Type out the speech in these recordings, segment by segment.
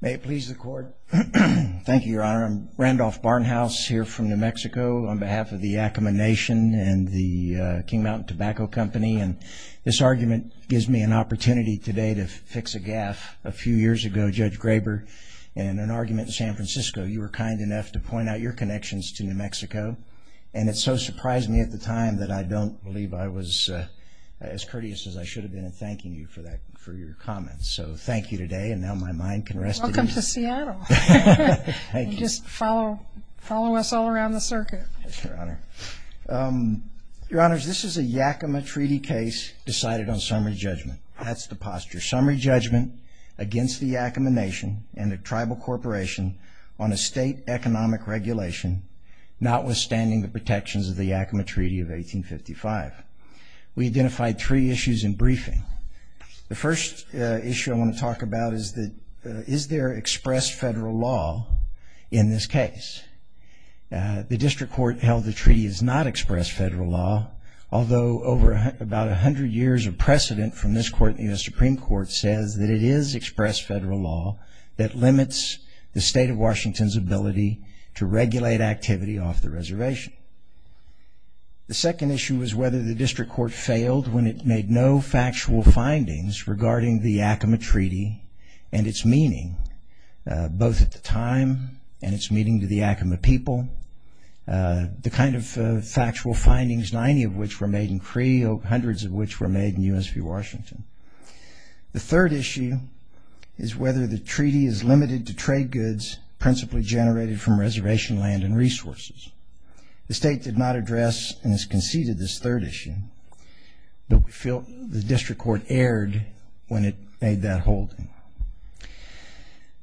May it please the Court. Thank you, Your Honor. I'm Randolph Barnhouse here from New Mexico on behalf of the Yakima Nation and the King Mountain Tobacco Company, and this argument gives me an opportunity today to fix a gaffe. A few years ago, Judge Graber, in an argument in San Francisco, you were kind enough to point out your connections to New Mexico, and it so surprised me at the time that I don't believe I was as courteous as I should have been in thanking you for that, for your comments. So thank you today, and now my mind can rest at ease. Welcome to Seattle. Just follow us all around the circuit. Your Honor, this is a Yakima Treaty case decided on summary judgment. That's the posture. Summary judgment against the Yakima Nation and the tribal corporation on a state economic regulation, not with understanding the protections of the Yakima Treaty of 1855. We identified three issues in briefing. The first issue I want to talk about is that, is there expressed federal law in this case? The district court held the treaty is not expressed federal law, although over about a hundred years of precedent from this Court and the U.S. Supreme Court says that it is expressed federal law that limits the state of Washington's ability to regulate activity off the reservation. The second issue was whether the district court failed when it made no factual findings regarding the Yakima Treaty and its meaning, both at the time and its meaning to the Yakima people. The kind of factual findings, 90 of which were made in Cree, hundreds of which were made in U.S. v. Washington. The third issue is whether the treaty is limited to trade goods principally generated from reservation land and resources. The state did not address and has conceded this third issue, but we feel the district court erred when it made that holding.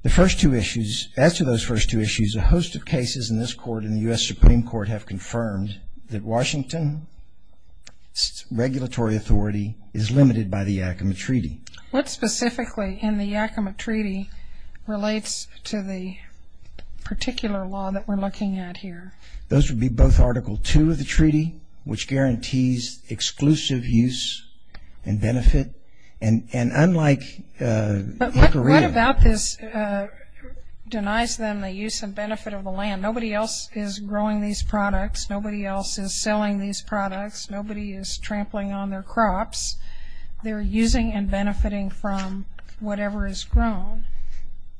The first two issues, as to those first two issues, a host of cases in this Court and the U.S. Supreme Court have confirmed that Washington's regulatory authority is limited by the Yakima Treaty. What specifically in the Yakima Treaty relates to the particular law that we're looking at here? Those would be both Article II of the treaty, which guarantees exclusive use and benefit, and unlike Inc. Areta. But what about this denies them the use and benefit of the land? Nobody else is growing these products. Nobody else is selling these products. Nobody is trampling on their crops. They're using and benefiting from whatever is grown.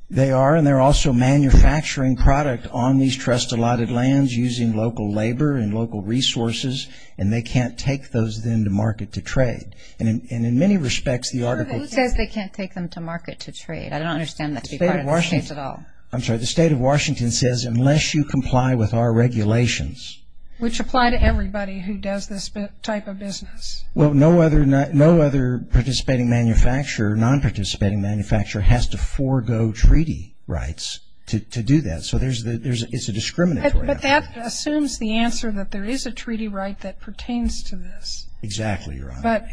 They are, and they're also manufacturing product on these trust-allotted lands using local labor and local resources, and they can't take those then to market to trade. And in many respects, the Article II... Who says they can't take them to market to trade? I don't understand that to be part of the state at all. I'm sorry. The state of Washington says, unless you comply with our regulations... Which apply to everybody who does this type of business. Well, no other participating manufacturer, non-participating manufacturer has to forego treaty rights to do that, so it's a discriminatory... But that assumes the answer that there is a treaty right that pertains to this. Exactly, Your Honor. But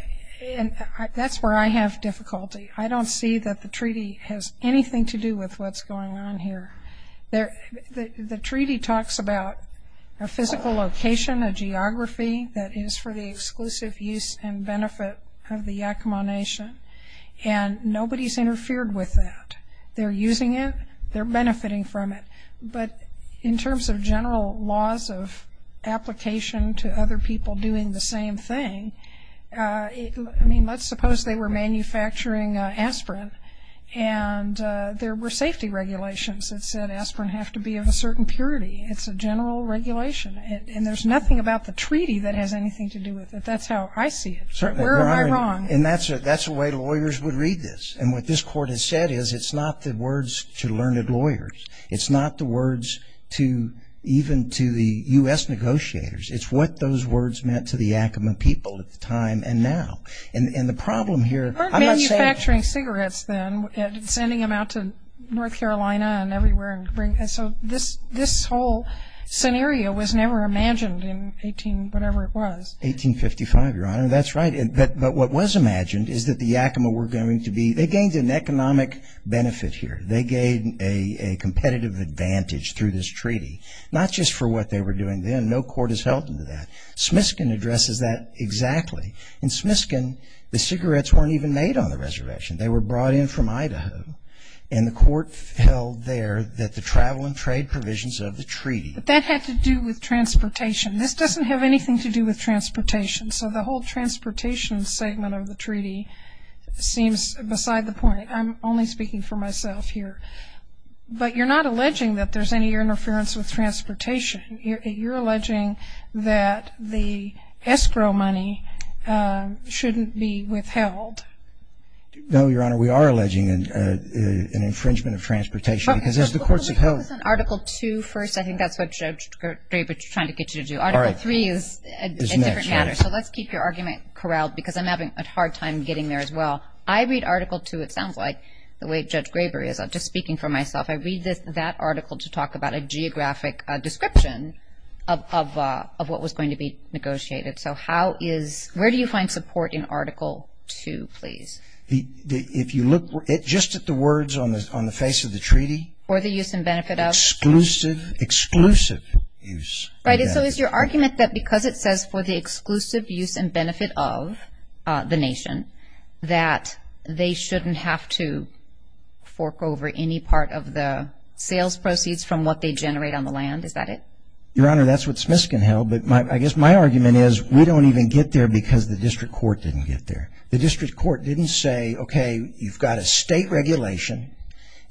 that's where I have difficulty. I don't see that the treaty has anything to do with what's going on here. The treaty talks about a physical location, a geography that is for the exclusive use and benefit of the Yakima Nation, and nobody's interfered with that. They're using it. They're benefiting from it. But in terms of general laws of application to other people doing the same thing, I mean, let's suppose they were manufacturing aspirin, and there were safety regulations that said aspirin have to be of a certain purity. It's a general regulation, and there's nothing about the treaty that has anything to do with it. That's how I see it. Where am I wrong? And that's the way lawyers would read this. And what this Court has said is it's not the words to learned lawyers. It's not the words to even to the U.S. negotiators. It's what those words meant to the Yakima people at the time and now. And the problem here... Or manufacturing cigarettes, then, sending them out to North Carolina and everywhere and so this whole scenario was never imagined in 18-whatever it was. 1855, Your Honor. That's right. But what was imagined is that the Yakima were going to be... They gained an economic benefit here. They gained a competitive advantage through this treaty, not just for what they were doing then. No court has held them to that. Smiskin addresses that exactly. In Smiskin, the cigarettes weren't even made on the reservation. They were brought in from Idaho, and the court held there that the travel and trade provisions of the treaty... That had to do with transportation. This doesn't have anything to do with transportation. So the whole transportation segment of the treaty seems beside the point. I'm only speaking for myself here. But you're not alleging that there's any interference with transportation. You're alleging that the escrow money shouldn't be withheld. No, Your Honor. We are alleging an infringement of transportation because it's the courts Let's focus on Article 2 first. I think that's what Judge Graber is trying to get you to do. Article 3 is a different matter. So let's keep your argument corralled because I'm having a hard time getting there as well. I read Article 2, it sounds like, the way Judge Graber is. I'm just speaking for myself. I read that article to talk about a geographic description of what was going to be negotiated. Where do you find support in Article 2, please? If you look just at the words on the face of the treaty... For the use and benefit of... Exclusive, exclusive use. Right. So is your argument that because it says for the exclusive use and benefit of the nation, that they shouldn't have to fork over any part of the sales proceeds from what they generate on the land? Is that it? Your Honor, that's what Smithkin held. But I guess my argument is we don't even get there because the district court didn't get there. The district court didn't say, okay, you've got a state regulation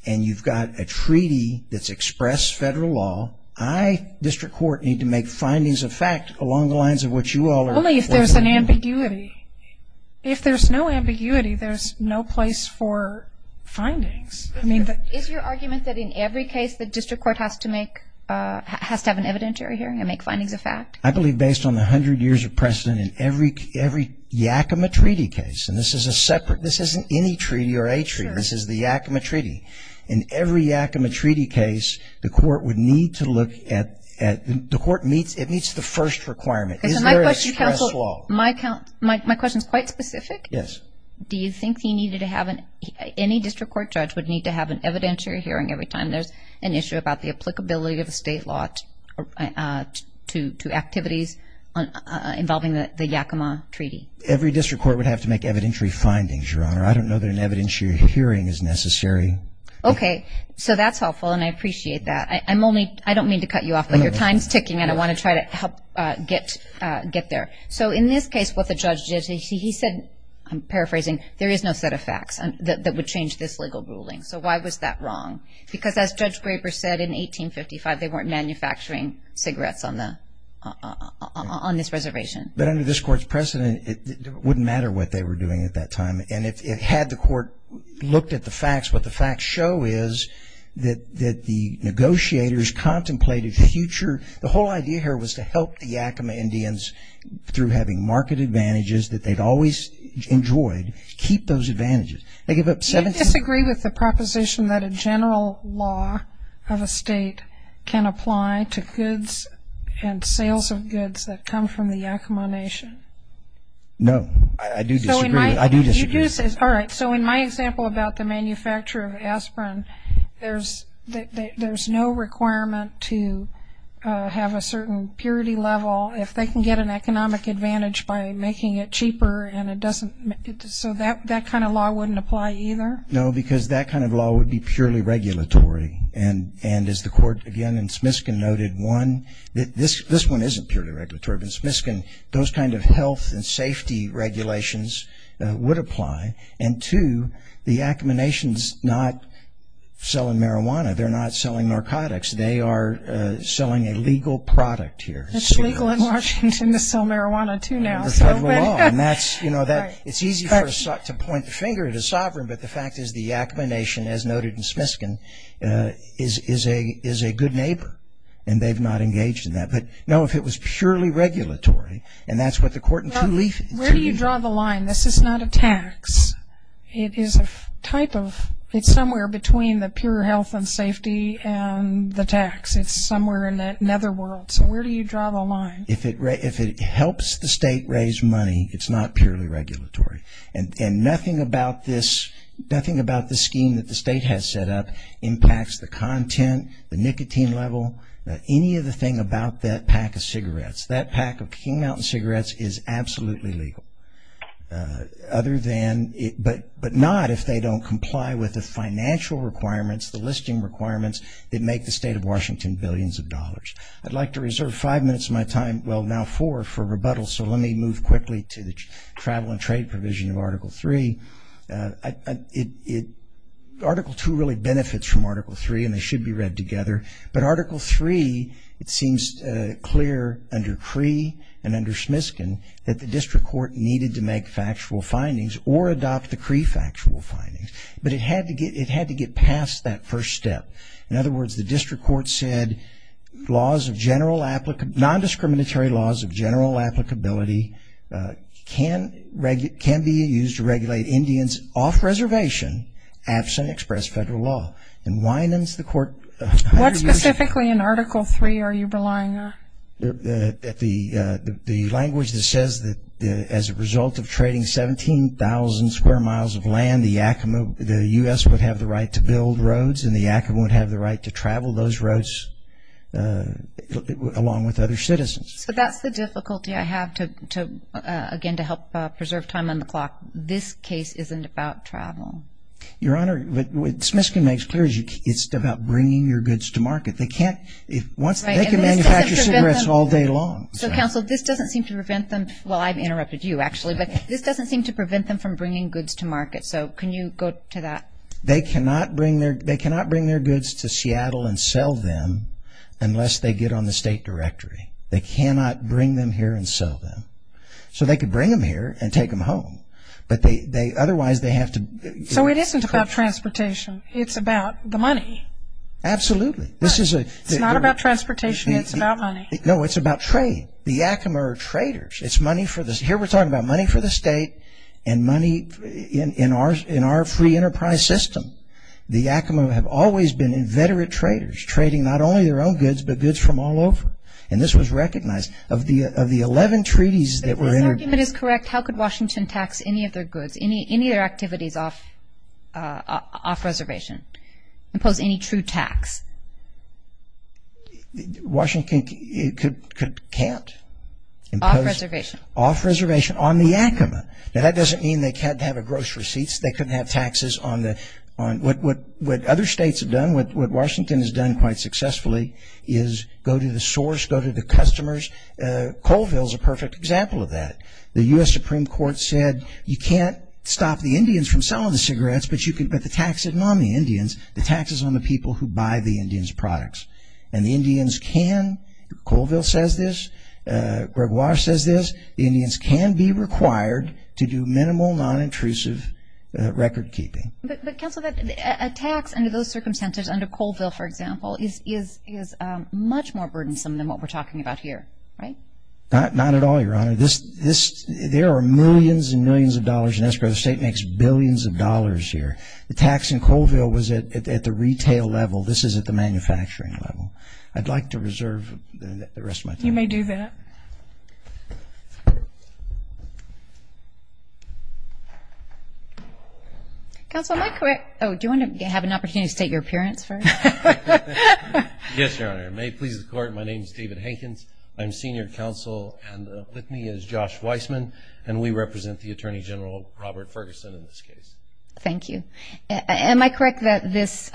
and you've got a treaty that's expressed federal law. I, district court, need to make findings of fact along the lines of what you all are... Only if there's an ambiguity. If there's no ambiguity, there's no place for findings. Is your argument that in every case, the district court has to make, has to have an evidentiary hearing and make findings of fact? I believe based on the hundred years of precedent in every Yakima Treaty case, and this is a separate, this isn't any treaty or a treaty. This is the Yakima Treaty. In every Yakima Treaty case, the court would need to look at, the court meets, it meets the first requirement. Is there express law? My question is quite specific. Yes. Do you think he needed to have an, any district court judge would need to have an evidentiary hearing every time there's an issue about the applicability of a state law to activities involving the Yakima Treaty? Every district court would have to make evidentiary findings, Your Honor. I don't know that an evidentiary hearing is necessary. Okay. So that's helpful and I appreciate that. I'm only, I don't mean to cut you off, but your time's ticking and I want to try to help get there. So in this case, what the judge did, he said, I'm paraphrasing, there is no set of facts that would change this legal ruling. So why was that wrong? Because as Judge Graber said in 1855, they weren't manufacturing cigarettes on the, on this reservation. But under this court's precedent, it wouldn't matter what they were doing at that time. And if it had the court looked at the facts, what the facts show is that the negotiators contemplated future, the whole idea here was to help the Yakima Indians through having market advantages that they'd always enjoyed, keep those advantages. Do you disagree with the proposition that a general law of a state can apply to goods and sales of goods that come from the Yakima Nation? No, I do disagree. I do disagree. All right. So in my example about the manufacture of aspirin, there's no requirement to have a certain purity level if they can get an economic advantage by making it cheaper and it doesn't, so that kind of law wouldn't apply either? No, because that kind of law would be purely regulatory. And as the court, again, in Smiskin noted, one, this one isn't purely regulatory, but in Smiskin, those kind of health and safety regulations would apply. And two, the Yakima Nation's not selling marijuana. They're not selling the product here. It's legal in Washington to sell marijuana, too, now. Under federal law. And that's, you know, it's easy to point the finger at a sovereign, but the fact is the Yakima Nation, as noted in Smiskin, is a good neighbor, and they've not engaged in that. But no, if it was purely regulatory, and that's what the court in Tuleaf said. Well, where do you draw the line? This is not a tax. It is a type of, it's somewhere between the pure health and safety and the tax. It's somewhere in that netherworld. So where do you draw the line? If it helps the state raise money, it's not purely regulatory. And nothing about this scheme that the state has set up impacts the content, the nicotine level, any of the thing about that pack of cigarettes. That pack of King Mountain cigarettes is absolutely legal. Other than, but not if they don't comply with the financial requirements, the listing requirements that make the state of Washington billions of dollars. I'd like to reserve five minutes of my time, well, now four, for rebuttal. So let me move quickly to the travel and trade provision of Article 3. Article 2 really benefits from Article 3, and they should be read together. But Article 3, it seems clear under Cree and under Smisken that the district court needed to make factual findings or adopt the Cree factual findings. But it had to get past that first step. In other words, the district court said laws of general, non-discriminatory laws of general applicability can be used to regulate Indians off reservation, absent express federal law. And Wynans, the court... What specifically in Article 3 are you relying on? The language that says that as a result of trading 17,000 square miles of land, the Yakima, the U.S. would have the right to build roads, and the Yakima would have the right to travel those roads along with other citizens. So that's the difficulty I have to, again, to help preserve time on the clock. This case isn't about travel. Your Honor, what Smisken makes clear is it's about bringing your goods to market. They can manufacture cigarettes all day long. So, Counsel, this doesn't seem to prevent them... Well, I've interrupted you, actually. But this doesn't seem to prevent them from bringing goods to market. So can you go to that? They cannot bring their goods to Seattle and sell them unless they get on the state directory. They cannot bring them here and sell them. So they could bring them here and take them home. But otherwise, they have to... So it isn't about transportation. It's about the money. Absolutely. It's not about transportation. It's about money. No, it's about trade. The Yakima are traders. It's money for the... Here we're talking about money for the state and money in our free enterprise system. The Yakima have always been inveterate traders, trading not only their own goods, but goods from all over. And this was recognized. Of the 11 treaties that were... If this argument is correct, how could Washington tax any of their goods, any of their activities off reservation? Impose any true tax? Washington can't impose off reservation on the Yakima. Now, that doesn't mean they can't have gross receipts. They couldn't have taxes on the... What other states have done, what Washington has done quite successfully, is go to the source, go to the customers. Colville is a perfect example of that. The U.S. Supreme Court said, you can't stop the Indians from selling the cigarettes, but you can... But the tax isn't on the Indians. The tax is on the people who buy the Indians' products. And the Indians can... Colville says this. Gregoire says this. The Indians can be required to do minimal, non-intrusive record keeping. But, Counselor, a tax under those circumstances, under Colville, for example, is much more burdensome than what we're talking about here, right? Not at all, Your Honor. There are millions and millions of dollars in escrow. The state makes billions of dollars here. The tax in Colville was at the retail level. This is at the manufacturing level. I'd like to reserve the rest of my time. You may do that. Counselor, am I correct? Oh, do you want to have an opportunity to state your appearance first? Yes, Your Honor. May it please the Court, my name is David Hankins. I'm senior counsel and with me is Josh Weissman, and we represent the Attorney General, Robert Ferguson, in this case. Thank you. Am I correct that this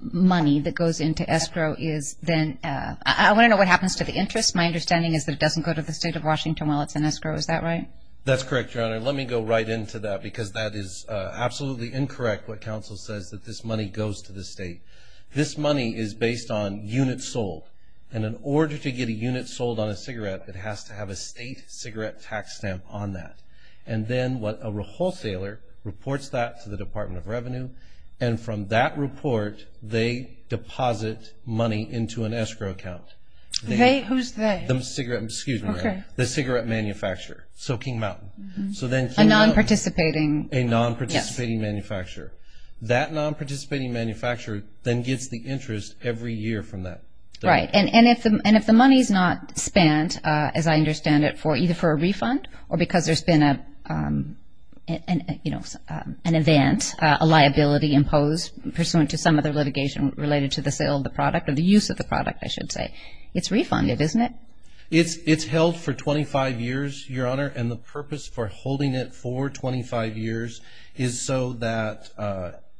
money that goes into escrow is then... I want to know what happens to the interest. My understanding is that it doesn't go to the state of Washington while it's in escrow. Is that right? That's correct, Your Honor. Let me go right into that because that is absolutely incorrect what Counsel says, that this money goes to the state. This money is based on units sold. In order to get a unit sold on a cigarette, it has to have a state cigarette tax stamp on that. Then what a wholesaler reports that to the Department of Revenue, and from that report they deposit money into an escrow account. Who's they? The cigarette manufacturer, so King Mountain. A non-participating... A non-participating manufacturer. That non-participating manufacturer then gets the interest every year from that. Right, and if the money's not spent, as I understand it, either for a refund or because there's been an event, a liability imposed pursuant to some other litigation related to the sale of the product, or the use of the product, I should say, it's refunded, isn't it? It's held for 25 years, Your Honor, and the purpose for holding it for 25 years is so that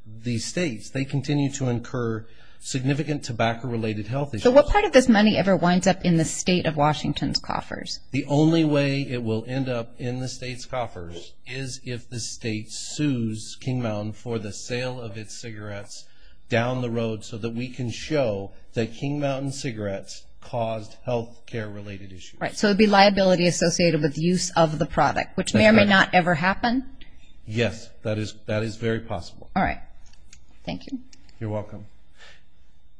the states, they continue to incur significant tobacco-related health issues. So what part of this money ever winds up in the state of Washington's coffers? The only way it will end up in the state's coffers is if the state sues King Mountain for the sale of its cigarettes down the road so that we can show that King Mountain cigarettes caused health care-related issues. Right, so it would be liability associated with use of the product, which may or may not ever happen? Yes, that is very possible. All right, thank you. You're welcome.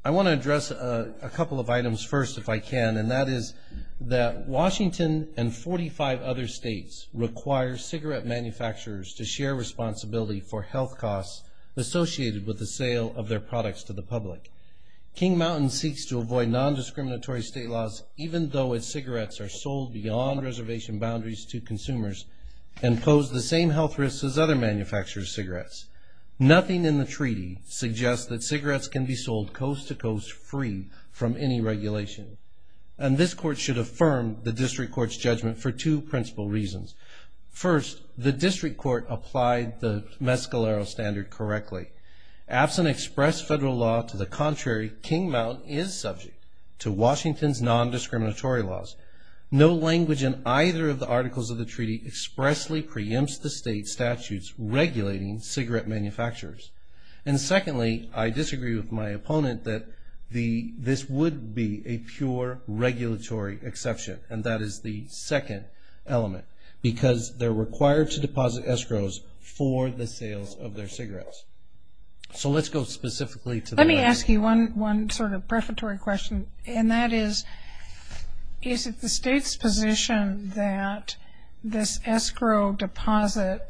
I want to address a couple of items first, if I can, and that is that Washington and 45 other states require cigarette manufacturers to share responsibility for health costs associated with the sale of their products to the public. King Mountain seeks to avoid nondiscriminatory state laws even though its cigarettes are on reservation boundaries to consumers and pose the same health risks as other manufacturers' cigarettes. Nothing in the treaty suggests that cigarettes can be sold coast-to-coast free from any regulation, and this Court should affirm the District Court's judgment for two principal reasons. First, the District Court applied the Mescalero Standard correctly. Absent express federal law to the contrary, King Mountain is subject to Washington's nondiscriminatory laws. No language in either of the articles of the treaty expressly preempts the state statutes regulating cigarette manufacturers. And secondly, I disagree with my opponent that this would be a pure regulatory exception, and that is the second element, because they're required to deposit escrows for the sales of their cigarettes. So let's go specifically to the... And that is, is it the state's position that this escrow deposit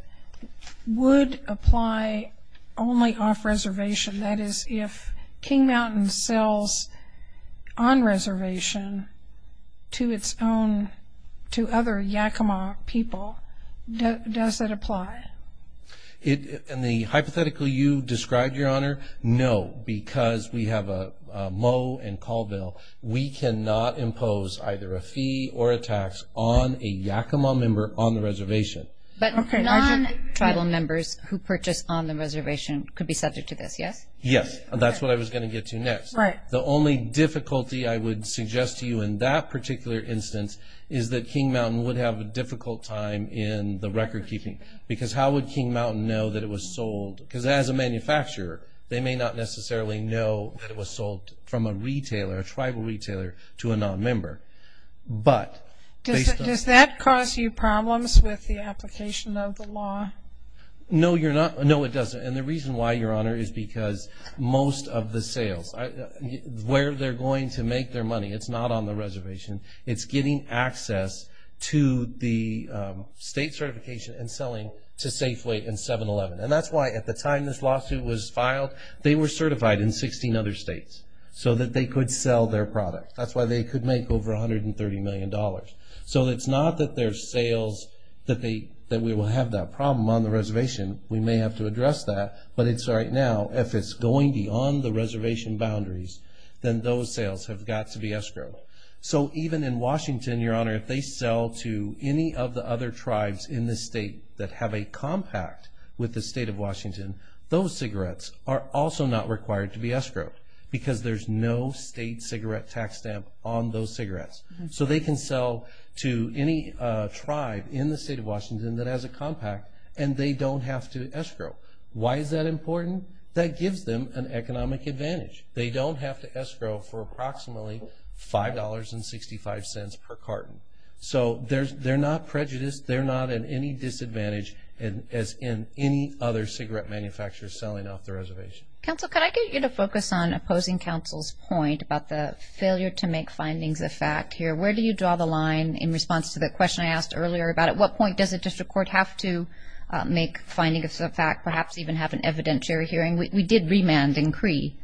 would apply only off reservation? That is, if King Mountain sells on reservation to its own... to other Yakima people, does that apply? And the hypothetical you described, Your Honor, no, because we have a mow and call bill, we cannot impose either a fee or a tax on a Yakima member on the reservation. But non-tribal members who purchase on the reservation could be subject to this, yes? Yes, that's what I was going to get to next. The only difficulty I would suggest to you in that particular instance is that King Mountain would have a difficult time in the record keeping, because how would King Mountain know that it was sold? Because as a manufacturer, they may not necessarily know that it was sold from a retailer, a tribal retailer, to a non-member. But based on... Does that cause you problems with the application of the law? No you're not... No, it doesn't. And the reason why, Your Honor, is because most of the sales, where they're going to the state certification and selling to Safeway and 7-Eleven. And that's why at the time this lawsuit was filed, they were certified in 16 other states so that they could sell their product. That's why they could make over $130 million. So it's not that their sales, that we will have that problem on the reservation. We may have to address that, but it's right now, if it's going beyond the reservation boundaries, then those sales have got to be escrowed. So even in Washington, Your Honor, if they sell to any of the other tribes in the state that have a compact with the state of Washington, those cigarettes are also not required to be escrowed, because there's no state cigarette tax stamp on those cigarettes. So they can sell to any tribe in the state of Washington that has a compact, and they don't have to escrow. Why is that important? That gives them an economic advantage. They don't have to escrow for approximately $5.65 per carton. So they're not prejudiced. They're not at any disadvantage as in any other cigarette manufacturer selling off the reservation. Counsel, could I get you to focus on opposing counsel's point about the failure to make findings of fact here? Where do you draw the line in response to the question I asked earlier about at what point does a district court have to make findings of fact, perhaps even have an evidentiary hearing? We did remand in Cree.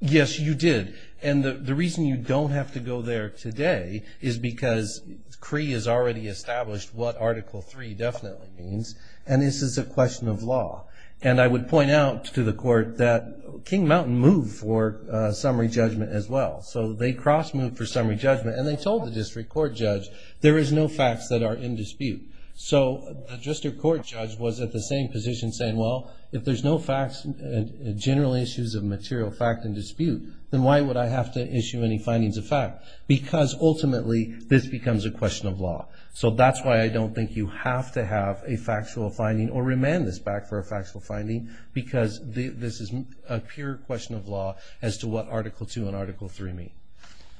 Yes, you did. And the reason you don't have to go there today is because Cree has already established what Article III definitely means, and this is a question of law. And I would point out to the court that King Mountain moved for summary judgment as well. So they cross-moved for summary judgment, and they told the district court judge, there is no facts that are in dispute. So the district court judge was at the same position saying, well, if there's no facts and general issues of material fact in dispute, then why would I have to issue any findings of fact? Because ultimately, this becomes a question of law. So that's why I don't think you have to have a factual finding or remand this back for a factual finding because this is a pure question of law as to what Article II and Article III mean.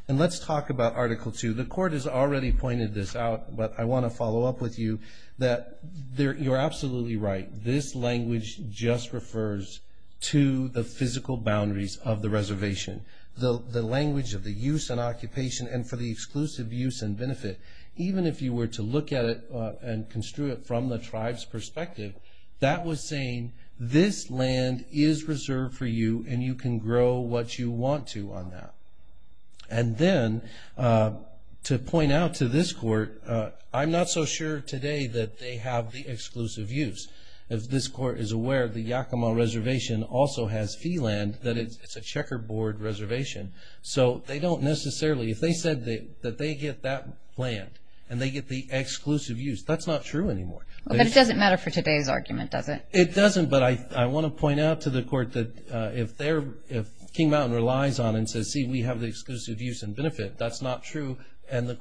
And let's talk about Article II. The court has already pointed this out, but I want to follow up with you that you're absolutely right. This language just refers to the physical boundaries of the reservation, the language of the use and occupation and for the exclusive use and benefit. Even if you were to look at it and construe it from the tribe's perspective, that was saying this land is reserved for you, and you can grow what you want to on that. And then to point out to this court, I'm not so sure today that they have the exclusive use. If this court is aware, the Yakima Reservation also has fee land, that it's a checkerboard reservation. So they don't necessarily, if they said that they get that land and they get the exclusive use, that's not true anymore. But it doesn't matter for today's argument, does it? It doesn't, but I want to point out to the court that if King Mountain relies on and we have the exclusive use and benefit, that's not true. And the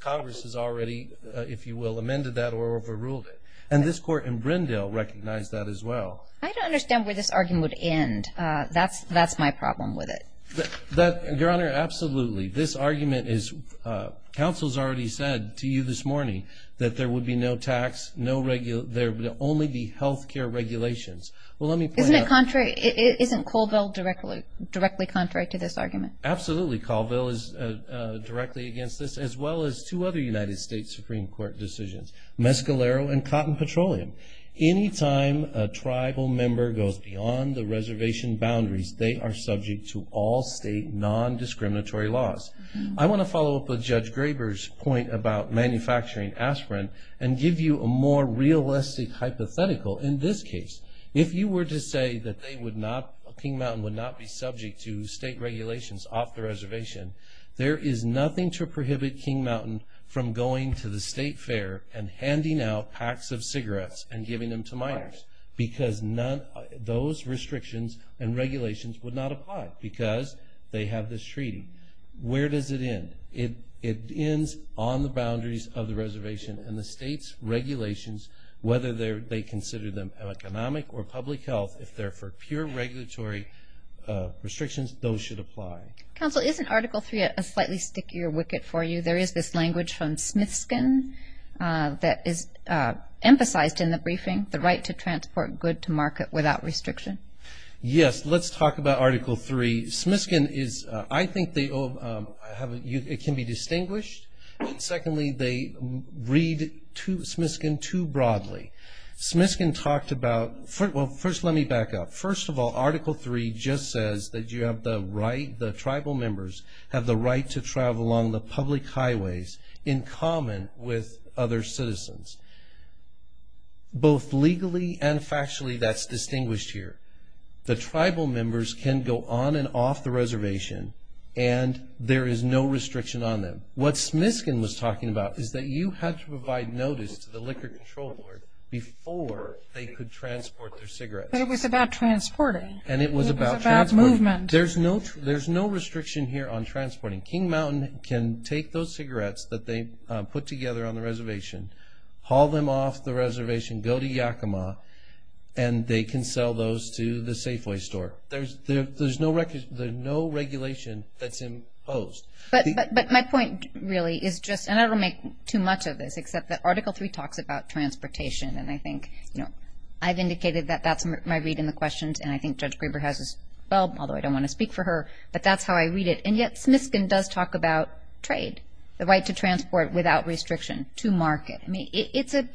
Congress has already, if you will, amended that or overruled it. And this court in Brindle recognized that as well. I don't understand where this argument would end. That's my problem with it. Your Honor, absolutely. This argument is, counsel's already said to you this morning that there would be no tax, no regular, there would only be health care regulations. Well, let me point out- Isn't it contrary? Isn't Colville directly contrary to this argument? Absolutely, Colville is directly against this, as well as two other United States Supreme Court decisions, Mescalero and Cotton Petroleum. Any time a tribal member goes beyond the reservation boundaries, they are subject to all state non-discriminatory laws. I want to follow up with Judge Graber's point about manufacturing aspirin and give you a more realistic hypothetical in this case. If you were to say that King Mountain would not be subject to state regulations off the reservation, there is nothing to prohibit King Mountain from going to the state fair and handing out packs of cigarettes and giving them to minors because those restrictions and regulations would not apply because they have this treaty. Where does it end? It ends on the boundaries of the reservation and the state's regulations, whether they consider them economic or public health, if they're for pure regulatory restrictions, those should apply. Counsel, isn't Article 3 a slightly stickier wicket for you? There is this language from Smithskin that is emphasized in the briefing, the right to transport good to market without restriction. Yes, let's talk about Article 3. Smithskin is- I think it can be distinguished. Secondly, they read Smithskin too broadly. Smithskin talked about- well, first let me back up. First of all, Article 3 just says that you have the right, the tribal members have the right to travel along the public highways in common with other citizens. Both legally and factually, that's distinguished here. The tribal members can go on and off the reservation and there is no restriction on them. What Smithskin was talking about is that you have to provide notice to the Liquor Control Board before they could transport their cigarettes. But it was about transporting. And it was about transport. It was about movement. There's no restriction here on transporting. King Mountain can take those cigarettes that they put together on the reservation, haul them off the reservation, go to Yakima, and they can sell those to the Safeway store. There's no regulation that's imposed. But my point really is just- and I don't want to make too much of this, except that Article 3 talks about transportation. And I think I've indicated that that's my read in the questions and I think Judge Grieber has as well, although I don't want to speak for her. But that's how I read it. And yet, Smithskin does talk about trade, the right to transport without restriction to market. I mean, it's a-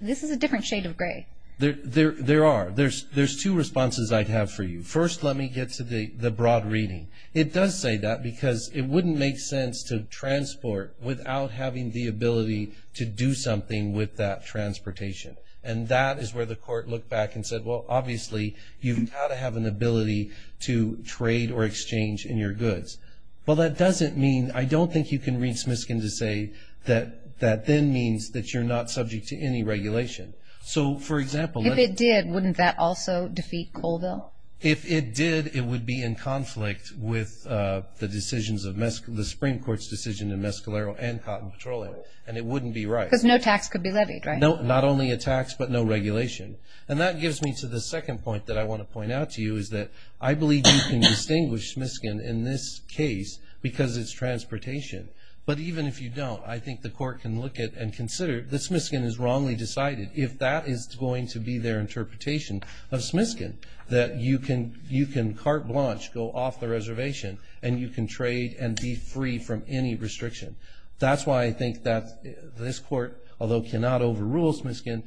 this is a different shade of gray. There are. There's two responses I have for you. First, let me get to the broad reading. It does say that because it wouldn't make sense to transport without having the ability to do something with that transportation. And that is where the court looked back and said, well, obviously, you've got to have an ability to trade or exchange in your goods. Well, that doesn't mean- I don't think you can read Smithskin to say that that then means that you're not subject to any regulation. So for example- If it did, wouldn't that also defeat Colville? If it did, it would be in conflict with the decisions of- the Supreme Court's decision in Mescalero and Cotton Petroleum. And it wouldn't be right. Because no tax could be levied, right? Not only a tax, but no regulation. And that gives me to the second point that I want to point out to you is that I believe you can distinguish Smithskin in this case because it's transportation. But even if you don't, I think the court can look at and consider that Smithskin is wrongly cited, if that is going to be their interpretation of Smithskin. That you can carte blanche, go off the reservation, and you can trade and be free from any restriction. That's why I think that this court, although cannot overrule Smithskin,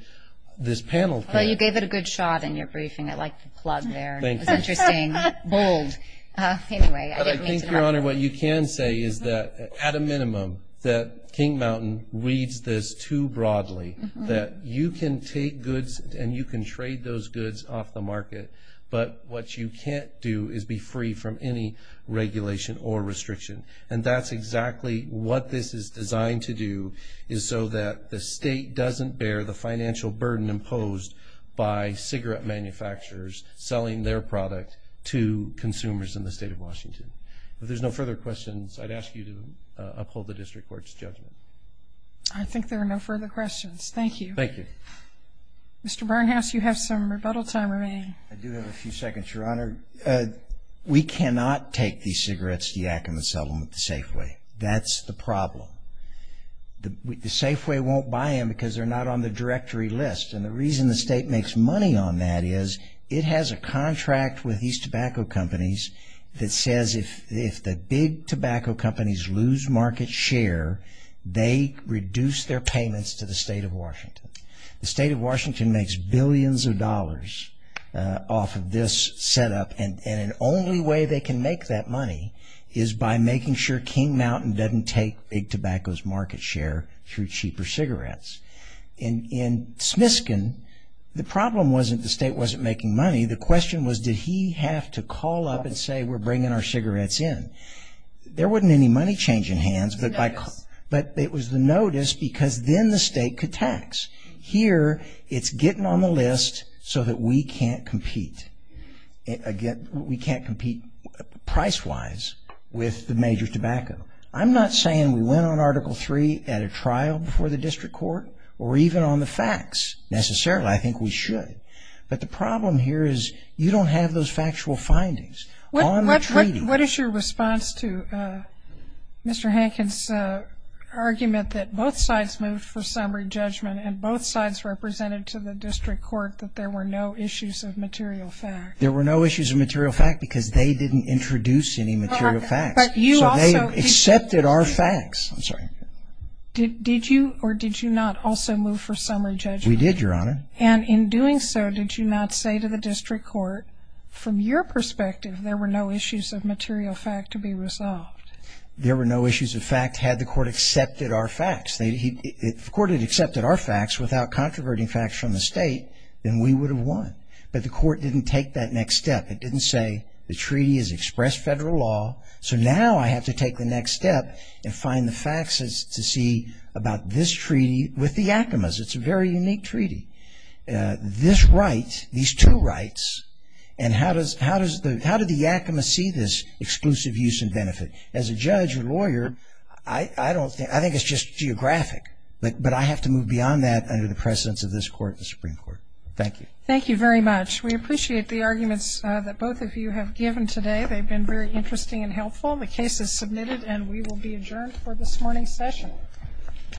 this panel- Well, you gave it a good shot in your briefing. I liked the plug there. Thank you. It was interesting. Bold. Anyway, I didn't mean to- But I think, Your Honor, what you can say is that, at a minimum, that King Mountain reads this too broadly. That you can take goods and you can trade those goods off the market, but what you can't do is be free from any regulation or restriction. And that's exactly what this is designed to do, is so that the state doesn't bear the financial burden imposed by cigarette manufacturers selling their product to consumers in the state of Washington. If there's no further questions, I'd ask you to uphold the district court's judgment. I think there are no further questions. Thank you. Thank you. Mr. Barnhouse, you have some rebuttal time remaining. I do have a few seconds, Your Honor. We cannot take these cigarettes to Yakima Settlement the Safeway. That's the problem. The Safeway won't buy them because they're not on the directory list. And the reason the state makes money on that is, it has a contract with these tobacco companies that says if the big tobacco companies lose market share, they reduce their payments to the state of Washington. The state of Washington makes billions of dollars off of this setup, and the only way they can make that money is by making sure King Mountain doesn't take big tobacco's market share through cheaper cigarettes. In Smiskin, the problem wasn't the state wasn't making money. The question was, did he have to call up and say, we're bringing our cigarettes in? There wasn't any money change in hands, but it was the notice because then the state could tax. Here, it's getting on the list so that we can't compete. We can't compete price-wise with the major tobacco. I'm not saying we went on Article 3 at a trial before the district court, or even on the facts necessarily. I think we should. But the problem here is, you don't have those factual findings on the treaty. What is your response to Mr. Hankins' argument that both sides moved for summary judgment and both sides represented to the district court that there were no issues of material fact? There were no issues of material fact because they didn't introduce any material facts. So they accepted our facts. Did you or did you not also move for summary judgment? We did, Your Honor. And in doing so, did you not say to the district court, from your perspective, there were no issues of material fact to be resolved? There were no issues of fact had the court accepted our facts. If the court had accepted our facts without controverting facts from the state, then we would have won. But the court didn't take that next step. It didn't say, the treaty has expressed federal law, so now I have to take the next step and find the facts to see about this treaty with the Acomas. It's a very unique treaty. This right, these two rights, and how does the Acoma see this exclusive use and benefit? As a judge or lawyer, I think it's just geographic, but I have to move beyond that under the precedence of this court and the Supreme Court. Thank you. Thank you very much. We appreciate the arguments that both of you have given today. They've been very interesting and helpful. The case is submitted and we will be adjourned for this morning's session.